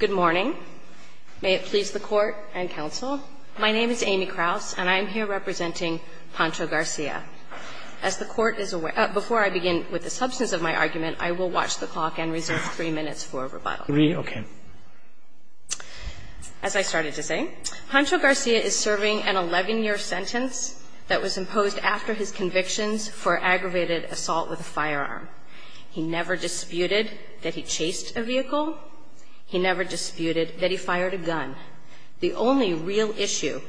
Good morning. May it please the Court and Counsel, my name is Amy Kraus and I am here representing Pancho Garcia. As the Court is aware, before I begin with the substance of my argument, I will watch the clock and reserve three minutes for rebuttal. Three, okay. As I started to say, Pancho Garcia is serving an 11-year sentence that was imposed after his convictions for aggravated assault with a firearm. He never disputed that he chased a vehicle. He never disputed that he fired a gun. The only real issue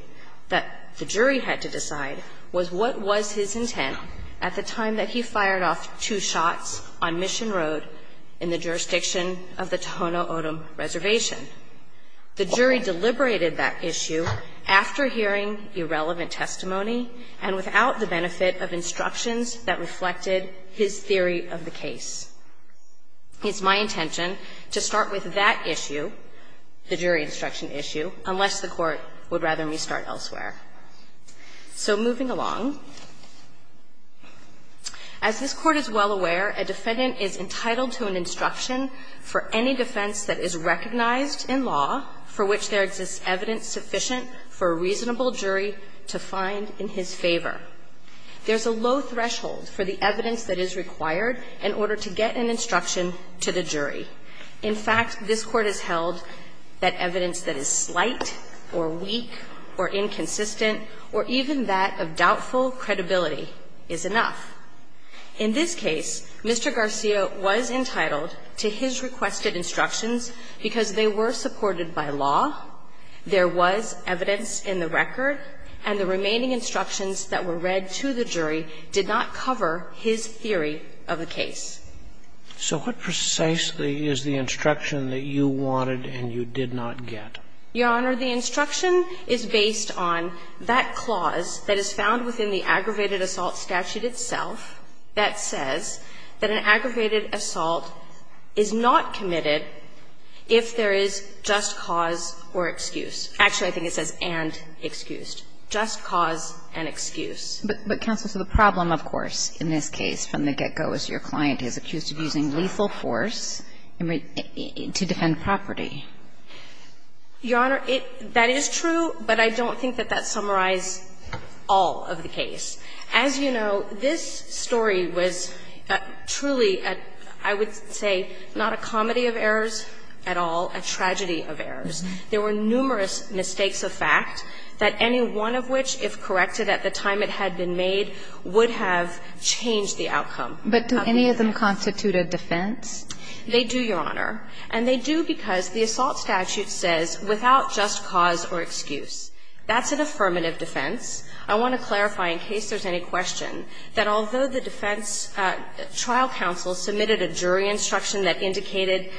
that the jury had to decide was what was his intent at the time that he fired off two shots on Mission Road in the jurisdiction of the Tohono O'odham Reservation. The jury deliberated that issue after hearing irrelevant testimony and without the benefit of instructions that reflected his theory of the case. It's my intention to start with that issue, the jury instruction issue, unless the Court would rather me start elsewhere. So moving along. As this Court is well aware, a defendant is entitled to an instruction for any defense that is recognized in law for which there exists evidence sufficient for a reasonable jury to find in his favor. There's a low threshold for the evidence that is required in order to get an instruction to the jury. In fact, this Court has held that evidence that is slight or weak or inconsistent or even that of doubtful credibility is enough. In this case, Mr. Garcia was entitled to his requested instructions because they were supported by law, there was evidence in the record, and the remaining instructions that were read to the jury did not cover his theory of the case. So what precisely is the instruction that you wanted and you did not get? Your Honor, the instruction is based on that clause that is found within the aggravated assault statute itself that says that an aggravated assault is not committed if there is just cause or excuse. Actually, I think it says and excused. Just cause and excuse. But, Counsel, so the problem, of course, in this case from the get-go is your client is accused of using lethal force to defend property. Your Honor, that is true, but I don't think that that summarized all of the case. As you know, this story was truly, I would say, not a comedy of errors at all, a tragedy of errors. There were numerous mistakes of fact that any one of which, if corrected at the time it had been made, would have changed the outcome. But do any of them constitute a defense? They do, Your Honor. And they do because the assault statute says, without just cause or excuse. That's an affirmative defense. I want to clarify, in case there's any question, that although the defense trial counsel submitted a jury instruction that indicated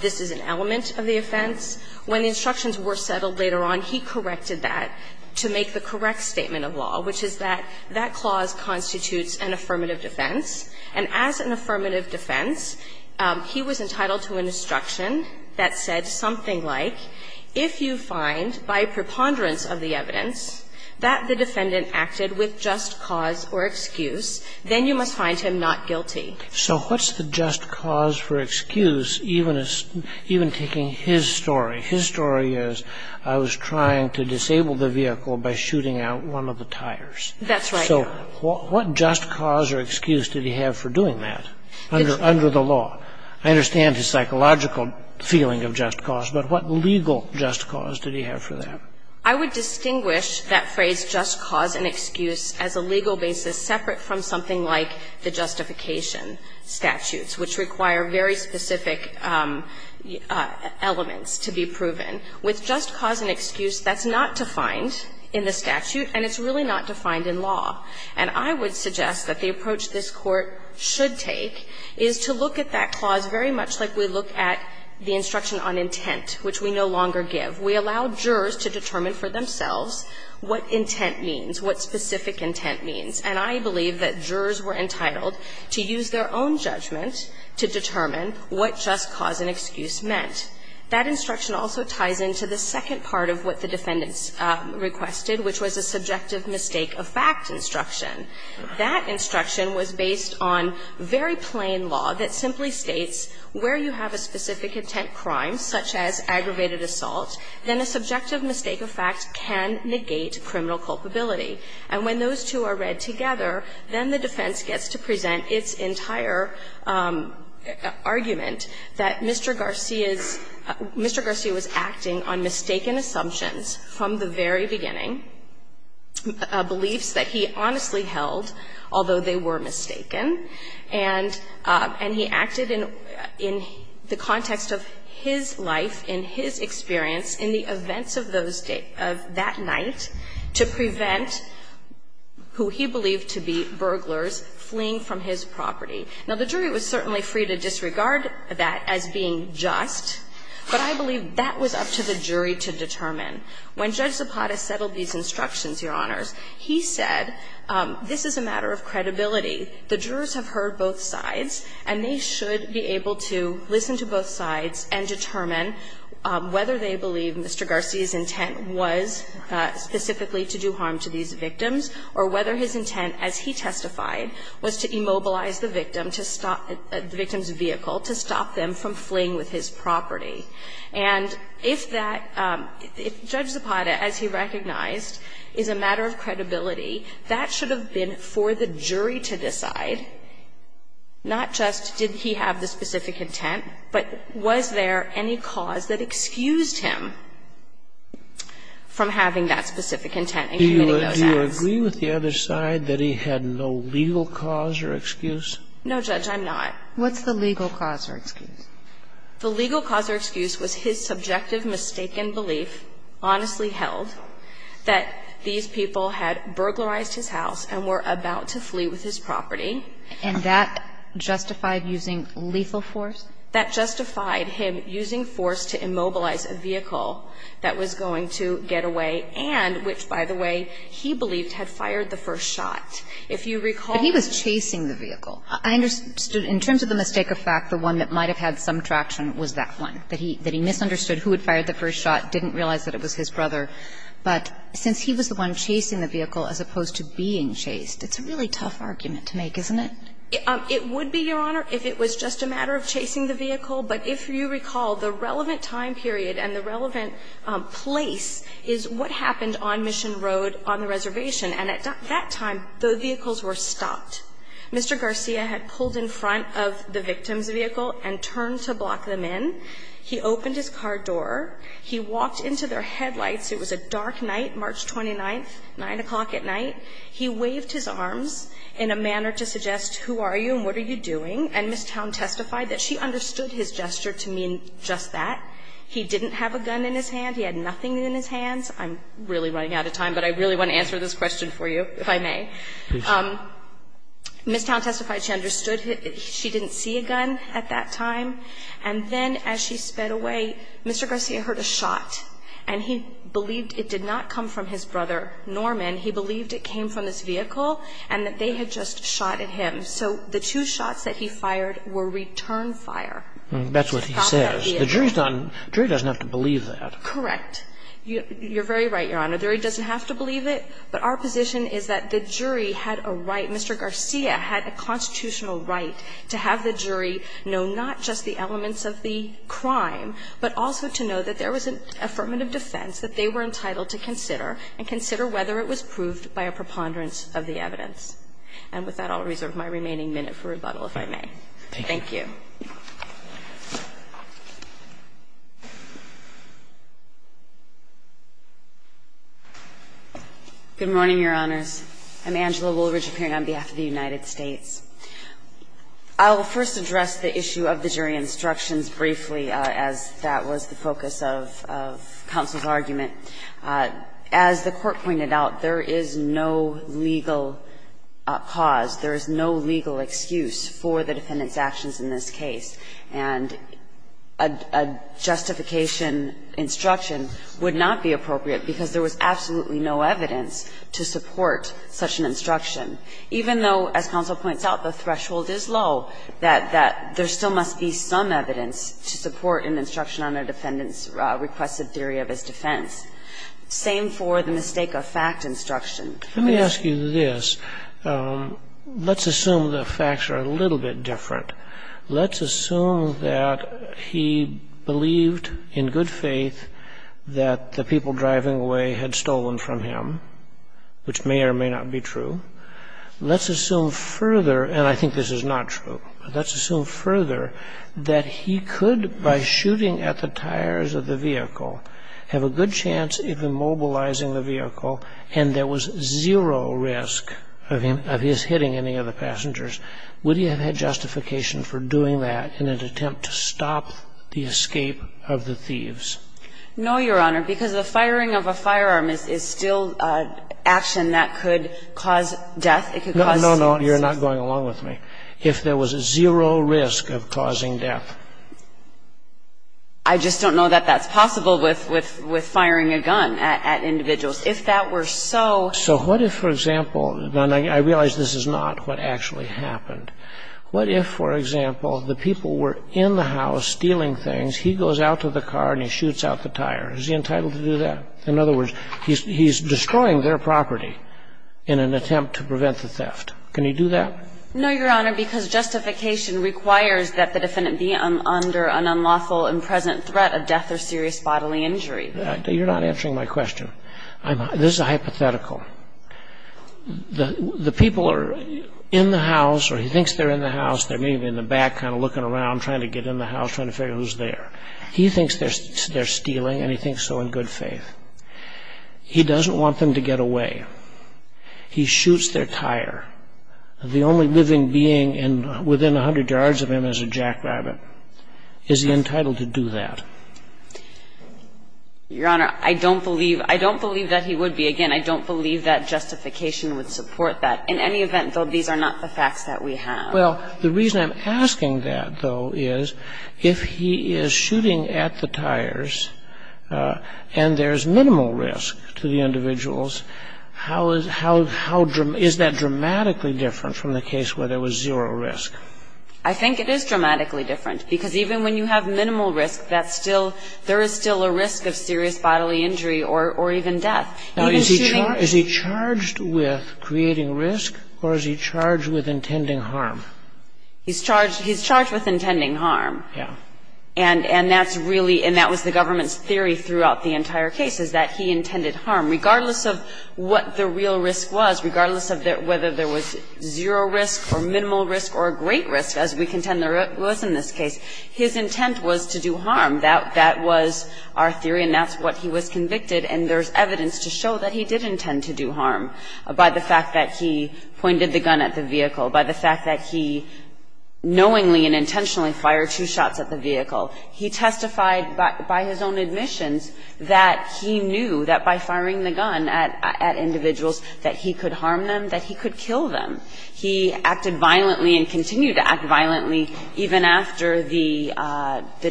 this is an element of the offense, when the instructions were settled later on, he corrected that to make the correct statement of law, which is that that clause constitutes an affirmative defense. And as an affirmative defense, he was entitled to an instruction that said something like, if you find, by preponderance of the evidence, that the defendant acted with just cause or excuse, then you must find him not guilty. So what's the just cause for excuse, even taking his story? His story is, I was trying to disable the vehicle by shooting out one of the tires. That's right. So what just cause or excuse did he have for doing that under the law? I understand his psychological feeling of just cause, but what legal just cause did he have for that? I would distinguish that phrase just cause and excuse from the instruction statutes, which require very specific elements to be proven. With just cause and excuse, that's not defined in the statute, and it's really not defined in law. And I would suggest that the approach this Court should take is to look at that clause very much like we look at the instruction on intent, which we no longer give. We allow jurors to determine for themselves what intent means, what specific intent means. And I believe that jurors were entitled to use their own judgment to determine what just cause and excuse meant. That instruction also ties into the second part of what the defendants requested, which was a subjective mistake of fact instruction. That instruction was based on very plain law that simply states where you have a specific intent crime, such as aggravated assault, then a subjective mistake of fact can negate criminal culpability. And when those two are read together, then the defense gets to present its entire argument that Mr. Garcia's – Mr. Garcia was acting on mistaken assumptions from the very beginning, beliefs that he honestly held, although they were mistaken, and he acted in the context of his life, in his experience, in the events of those days, of that night, to prevent who he believed to be burglars fleeing from his property. Now, the jury was certainly free to disregard that as being just, but I believe that was up to the jury to determine. When Judge Zapata settled these instructions, Your Honors, he said this is a matter of credibility. The jurors have heard both sides, and they should be able to listen to both sides and determine whether they believe Mr. Garcia's intent was specifically to do harm to these victims, or whether his intent, as he testified, was to immobilize the victim to stop – the victim's vehicle to stop them from fleeing with his property. And if that – if Judge Zapata, as he recognized, is a matter of credibility, that should have been for the jury to decide, not just did he have the specific intent, but was there any cause that excused him from having that specific intent in committing those acts. Do you agree with the other side that he had no legal cause or excuse? No, Judge, I'm not. What's the legal cause or excuse? The legal cause or excuse was his subjective mistaken belief, honestly held, that these people had burglarized his house and were about to flee with his property. And that justified using lethal force? That justified him using force to immobilize a vehicle that was going to get away and which, by the way, he believed had fired the first shot. If you recall the – But he was chasing the vehicle. I understood, in terms of the mistake of fact, the one that might have had some traction was that one, that he misunderstood who had fired the first shot, didn't realize that it was his brother. But since he was the one chasing the vehicle as opposed to being chased, it's a really tough argument to make, isn't it? It would be, Your Honor, if it was just a matter of chasing the vehicle. But if you recall, the relevant time period and the relevant place is what happened on Mission Road on the reservation. And at that time, the vehicles were stopped. Mr. Garcia had pulled in front of the victim's vehicle and turned to block them in. He opened his car door. He walked into their headlights. It was a dark night, March 29th, 9 o'clock at night. He waved his arms in a manner to suggest, who are you and what are you doing? And Ms. Town testified that she understood his gesture to mean just that. He didn't have a gun in his hand. He had nothing in his hands. I'm really running out of time, but I really want to answer this question for you, if I may. Ms. Town testified she understood he – she didn't see a gun at that time. And then as she sped away, Mr. Garcia heard a shot, and he believed it did not come from his brother, Norman. He believed it came from his vehicle and that they had just shot at him. So the two shots that he fired were return fire. That's what he says. The jury's not – the jury doesn't have to believe that. Correct. You're very right, Your Honor. The jury doesn't have to believe it, but our position is that the jury had a right – Mr. Garcia had a constitutional right to have the jury know not just the elements of the crime, but also to know that there was an affirmative defense that they were approved by a preponderance of the evidence. And with that, I'll reserve my remaining minute for rebuttal, if I may. Thank you. Good morning, Your Honors. I'm Angela Woolridge, appearing on behalf of the United States. I'll first address the issue of the jury instructions briefly, as that was the focus of counsel's argument. As the Court pointed out, there is no legal cause, there is no legal excuse for the defendant's actions in this case. And a justification instruction would not be appropriate because there was absolutely no evidence to support such an instruction, even though, as counsel points out, the threshold is low, that there still must be some evidence to support an instruction on a defendant's requested theory of his defense. Same for the mistake of fact instruction. Let me ask you this. Let's assume the facts are a little bit different. Let's assume that he believed in good faith that the people driving away had stolen from him, which may or may not be true. Let's assume further – and I think this is not true – let's assume further that he could, by shooting at the tires of the vehicle, have a good chance of immobilizing the vehicle and there was zero risk of his hitting any of the passengers. Would he have had justification for doing that in an attempt to stop the escape of the thieves? No, Your Honor, because the firing of a firearm is still action that could cause death. It could cause suicide. No, no, no. You're not going along with me. If there was a zero risk of causing death. I just don't know that that's possible with firing a gun at individuals. If that were so… So what if, for example – and I realize this is not what actually happened – what if, for example, the people were in the house stealing things. He goes out to the car and he shoots out the tire. Is he entitled to do that? In other words, he's destroying their property in an attempt to prevent the theft. Can he do that? No, Your Honor, because justification requires that the defendant be under an unlawful and present threat of death or serious bodily injury. You're not answering my question. This is a hypothetical. The people are in the house or he thinks they're in the house. They're maybe in the back kind of looking around, trying to get in the house, trying to figure out who's there. He thinks they're stealing and he thinks so in good faith. He doesn't want them to get away. He shoots their tire. The only living being within 100 yards of him is a jackrabbit. Is he entitled to do that? Your Honor, I don't believe that he would be. Again, I don't believe that justification would support that. In any event, though, these are not the facts that we have. Well, the reason I'm asking that, though, is if he is shooting at the tires and there's minimal risk to the individuals, is that dramatically different from the case where there was zero risk? I think it is dramatically different, because even when you have minimal risk, there is still a risk of serious bodily injury or even death. Now, is he charged with creating risk or is he charged with intending harm? He's charged with intending harm. Yeah. And that's really, and that was the government's theory throughout the entire case, is that he intended harm. Regardless of what the real risk was, regardless of whether there was zero risk or minimal risk or great risk, as we contend there was in this case, his intent was to do harm. That was our theory and that's what he was convicted. And there's evidence to show that he did intend to do harm by the fact that he pointed the gun at the vehicle, by the fact that he knowingly and intentionally fired two shots at the vehicle. He testified by his own admissions that he knew that by firing the gun at individuals that he could harm them, that he could kill them. He acted violently and continued to act violently even after the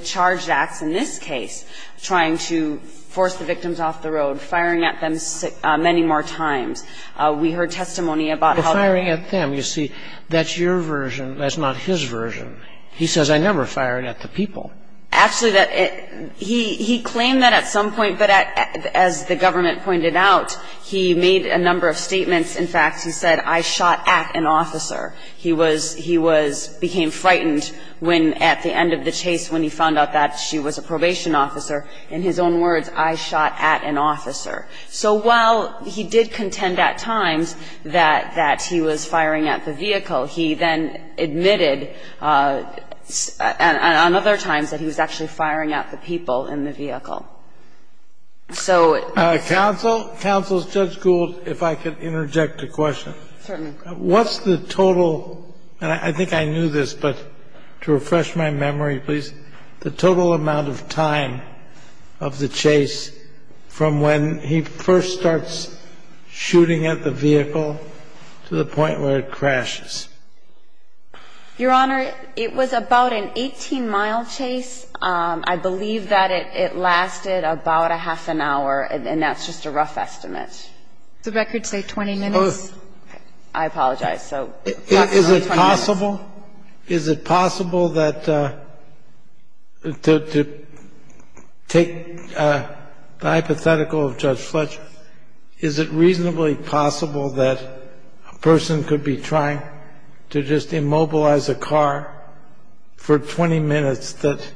charged acts in this case, trying to force the victims off the road, firing at them many more times. We heard testimony about how the ---- You see, that's your version, that's not his version. He says, I never fired at the people. Actually, he claimed that at some point, but as the government pointed out, he made a number of statements. In fact, he said, I shot at an officer. He was, he was, became frightened when at the end of the chase when he found out that she was a probation officer. In his own words, I shot at an officer. So while he did contend at times that, that he was firing at the vehicle, he then admitted on other times that he was actually firing at the people in the vehicle. So ---- Counsel, Counsel, Judge Gould, if I could interject a question. Certainly. What's the total, and I think I knew this, but to refresh my memory, please, what's the total amount of time of the chase from when he first starts shooting at the vehicle to the point where it crashes? Your Honor, it was about an 18-mile chase. I believe that it lasted about a half an hour, and that's just a rough estimate. The record say 20 minutes. I apologize. So, approximately 20 minutes. Is it possible, is it possible that, to take the hypothetical of Judge Fletcher, is it reasonably possible that a person could be trying to just immobilize a car for 20 minutes that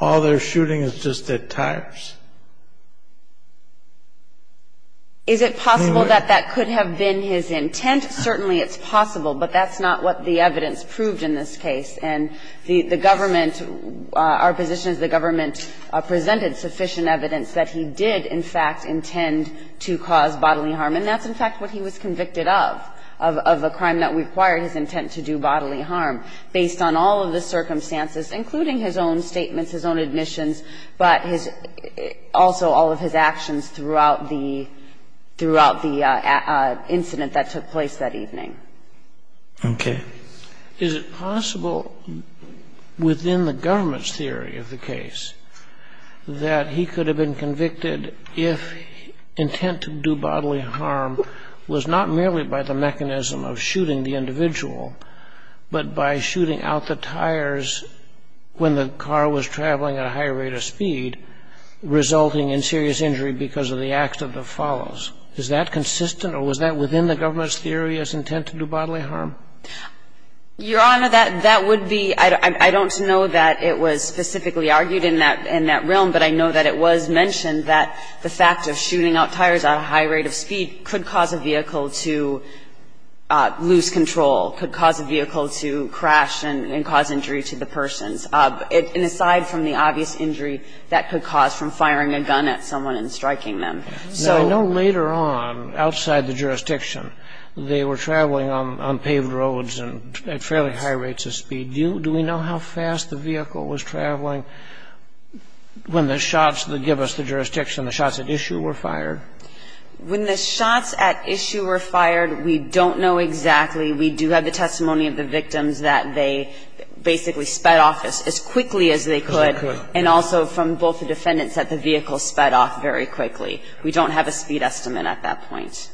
all they're shooting is just at tires? Is it possible that that could have been his intent? Certainly, it's possible, but that's not what the evidence proved in this case. And the government, our position is the government presented sufficient evidence that he did, in fact, intend to cause bodily harm, and that's, in fact, what he was convicted of, of a crime that required his intent to do bodily harm, based on all of the circumstances, including his own statements, his own admissions, but his also all of his actions throughout the incident that took place that evening. Okay. Is it possible, within the government's theory of the case, that he could have been convicted if intent to do bodily harm was not merely by the mechanism of shooting the individual, but by shooting out the tires when the car was traveling at a higher rate of speed, resulting in serious injury because of the act of the follows? Is that consistent, or was that within the government's theory as intent to do bodily harm? Your Honor, that would be – I don't know that it was specifically argued in that realm, but I know that it was mentioned that the fact of shooting out tires at a high rate of speed could cause a vehicle to lose control, could cause a vehicle to crash and cause injury to the persons. And aside from the obvious injury that could cause from firing a gun at someone and striking them. So – I know later on, outside the jurisdiction, they were traveling on paved roads and at fairly high rates of speed. Do we know how fast the vehicle was traveling when the shots that give us the jurisdiction, the shots at issue, were fired? When the shots at issue were fired, we don't know exactly. We do have the testimony of the victims that they basically sped off as quickly as they could. And also from both the defendants that the vehicle sped off very quickly. We don't have a speed estimate at that point.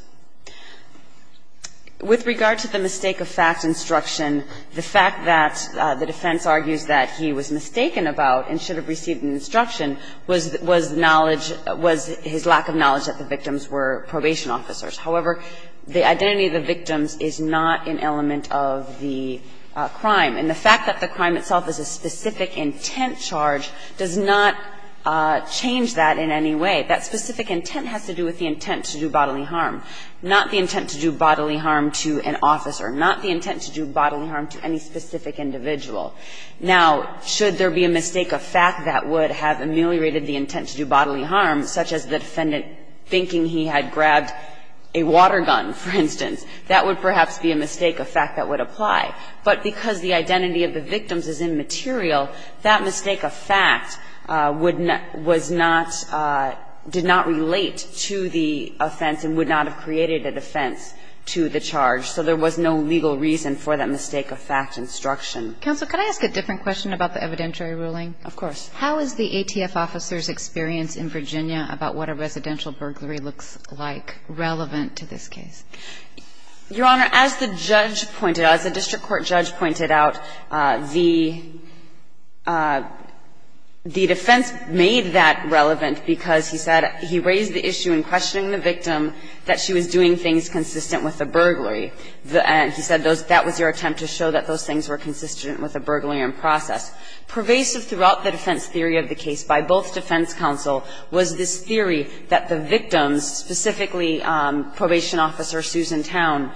With regard to the mistake of fact instruction, the fact that the defense argues that he was mistaken about and should have received an instruction was knowledge – was his lack of knowledge that the victims were probation officers. However, the identity of the victims is not an element of the crime. And the fact that the crime itself is a specific intent charge does not change that in any way. That specific intent has to do with the intent to do bodily harm, not the intent to do bodily harm to an officer, not the intent to do bodily harm to any specific individual. Now, should there be a mistake of fact that would have ameliorated the intent to do a water gun, for instance, that would perhaps be a mistake of fact that would apply. But because the identity of the victims is immaterial, that mistake of fact would not – was not – did not relate to the offense and would not have created a defense to the charge. So there was no legal reason for that mistake of fact instruction. Counsel, could I ask a different question about the evidentiary ruling? Of course. How is the ATF officer's experience in Virginia about what a residential burglary looks like relevant to this case? Your Honor, as the judge pointed out, as the district court judge pointed out, the defense made that relevant because he said he raised the issue in questioning the victim that she was doing things consistent with a burglary. And he said that was your attempt to show that those things were consistent with a burglary in process. Pervasive throughout the defense theory of the case by both defense counsel was this that the victims, specifically Probation Officer Susan Towne,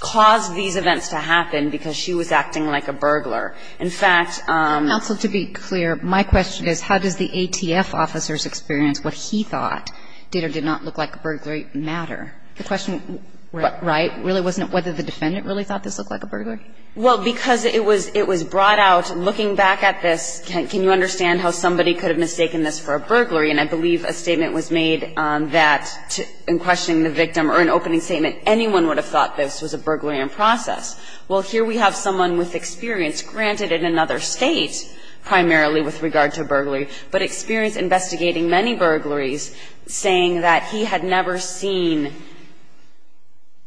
caused these events to happen because she was acting like a burglar. In fact – Counsel, to be clear, my question is how does the ATF officer's experience, what he thought did or did not look like a burglary, matter? The question – Right. Right? Really wasn't it whether the defendant really thought this looked like a burglary? Well, because it was – it was brought out – looking back at this, can you understand how somebody could have mistaken this for a burglary? And I believe a statement was made that, in questioning the victim, or an opening statement, anyone would have thought this was a burglary in process. Well, here we have someone with experience, granted in another State, primarily with regard to burglary, but experience investigating many burglaries, saying that he had never seen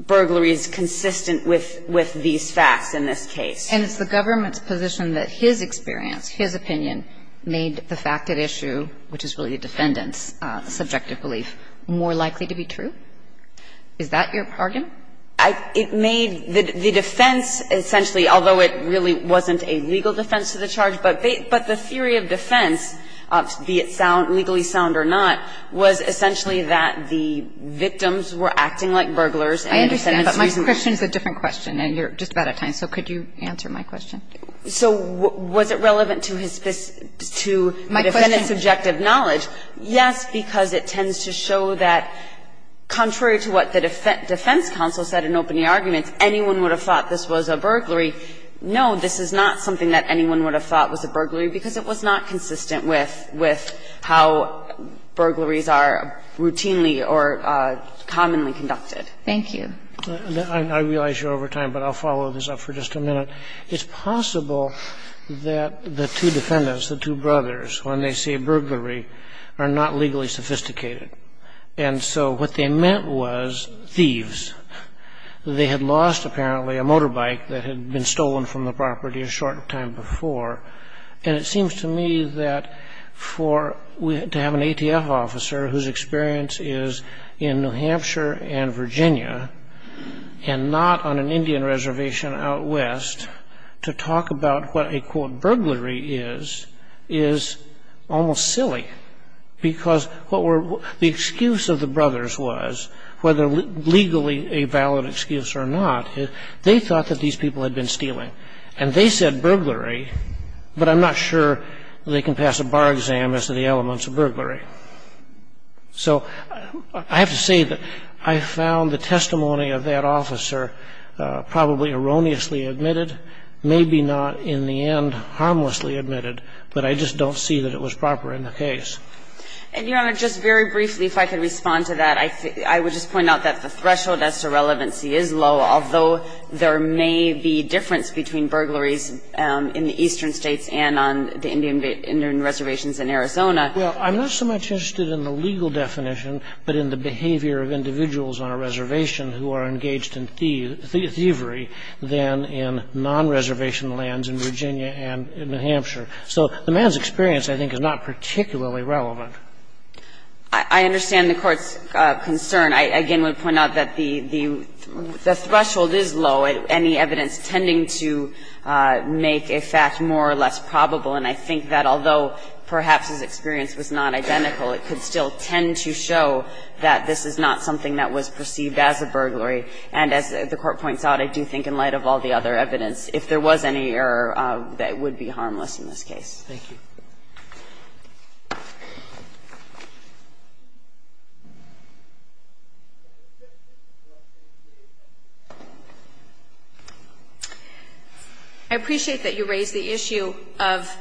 burglaries consistent with – with these facts in this case. And it's the government's position that his experience, his opinion, made the fact that this was a burglary in process, more likely to be true. Is that your argument? It made the defense, essentially, although it really wasn't a legal defense of the charge, but they – but the theory of defense, be it sound – legally sound or not, was essentially that the victims were acting like burglars and the defendants were using – I understand. But my question is a different question, and you're just about out of time, so could you answer my question? So was it relevant to his – to the defendant's experience? In its objective knowledge, yes, because it tends to show that, contrary to what the defense counsel said in opening arguments, anyone would have thought this was a burglary. No, this is not something that anyone would have thought was a burglary because it was not consistent with how burglaries are routinely or commonly conducted. Thank you. I realize you're over time, but I'll follow this up for just a minute. It's possible that the two defendants, the two brothers, when they say burglary, are not legally sophisticated. And so what they meant was thieves. They had lost, apparently, a motorbike that had been stolen from the property a short time before, and it seems to me that for – to have an ATF officer whose experience is in New Hampshire and Virginia and not on an Indian reservation out west to talk about what a, quote, burglary is, is almost silly. Because what were – the excuse of the brothers was, whether legally a valid excuse or not, they thought that these people had been stealing. And they said burglary, but I'm not sure they can pass a bar exam as to the elements of burglary. So I have to say that I found the testimony of that officer probably erroneously admitted, maybe not in the end harmlessly admitted, but I just don't see that it was proper in the case. And, Your Honor, just very briefly, if I could respond to that, I would just point out that the threshold as to relevancy is low, although there may be difference between burglaries in the eastern states and on the Indian reservations in Arizona. Well, I'm not so much interested in the legal definition, but in the behavior of individuals on a reservation who are engaged in thievery than in non-reservation lands in Virginia and New Hampshire. So the man's experience, I think, is not particularly relevant. I understand the Court's concern. I again would point out that the threshold is low, any evidence tending to make a fact more or less probable, and I think that although perhaps his experience was not identical, it could still tend to show that this is not something that was perceived as a burglary. And as the Court points out, I do think in light of all the other evidence, if there was any error, that it would be harmless in this case. Thank you. I appreciate that you raised the issue of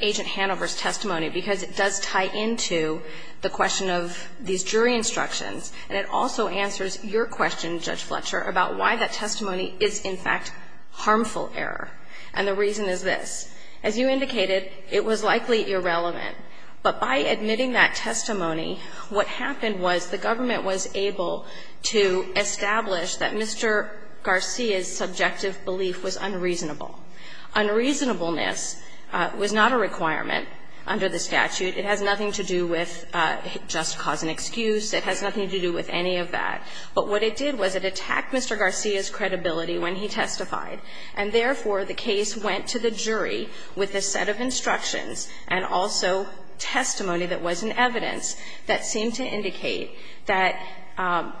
Agent Hanover's testimony, because it does tie into the question of these jury instructions, and it also answers your question, Judge Fletcher, about why that testimony is, in fact, harmful error, and the reason is this. It's likely irrelevant, but by admitting that testimony, what happened was the government was able to establish that Mr. Garcia's subjective belief was unreasonable. Unreasonableness was not a requirement under the statute. It has nothing to do with just cause and excuse. It has nothing to do with any of that. But what it did was it attacked Mr. Garcia's credibility when he testified, and therefore, the case went to the jury with a set of instructions and also testimony that wasn't evidence that seemed to indicate that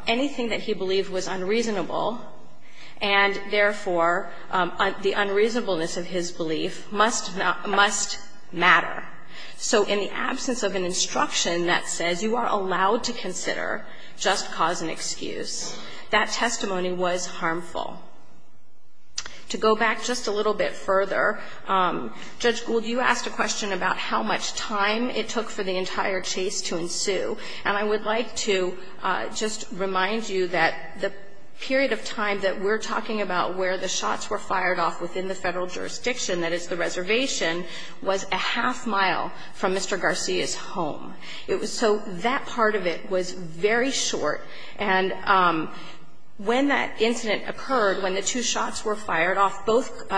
anything that he believed was unreasonable and, therefore, the unreasonableness of his belief must matter. So in the absence of an instruction that says you are allowed to consider just cause and excuse, that testimony was harmful. To go back just a little bit further, Judge Gould, you asked a question about how much time it took for the entire chase to ensue, and I would like to just remind you that the period of time that we're talking about where the shots were fired off within the Federal jurisdiction, that is the reservation, was a half mile from Mr. Garcia's home. It was so that part of it was very short, and when that incident occurred, when the two shots were fired off, both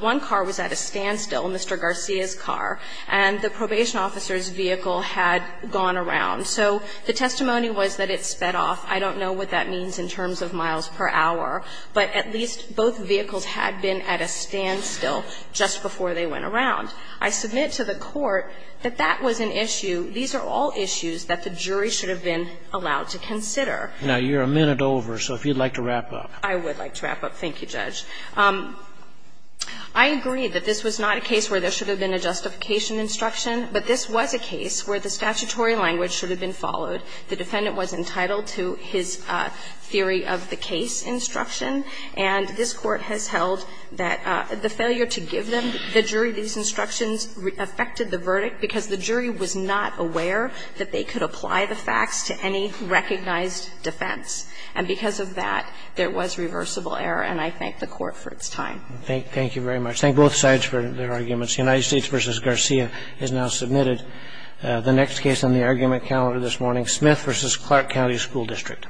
one car was at a standstill, Mr. Garcia's car, and the probation officer's vehicle had gone around. So the testimony was that it sped off. I don't know what that means in terms of miles per hour, but at least both vehicles had been at a standstill just before they went around. I submit to the Court that that was an issue. These are all issues that the jury should have been allowed to consider. Now, you're a minute over, so if you'd like to wrap up. I would like to wrap up. Thank you, Judge. I agree that this was not a case where there should have been a justification instruction, but this was a case where the statutory language should have been followed. The defendant was entitled to his theory of the case instruction, and this Court has held that the failure to give the jury these instructions affected the verdict because the jury was not aware that they could apply the facts to any recognized defense. And because of that, there was reversible error, and I thank the Court for its time. Thank you very much. Thank both sides for their arguments. The United States v. Garcia has now submitted the next case on the argument calendar this morning, Smith v. Clark County School District.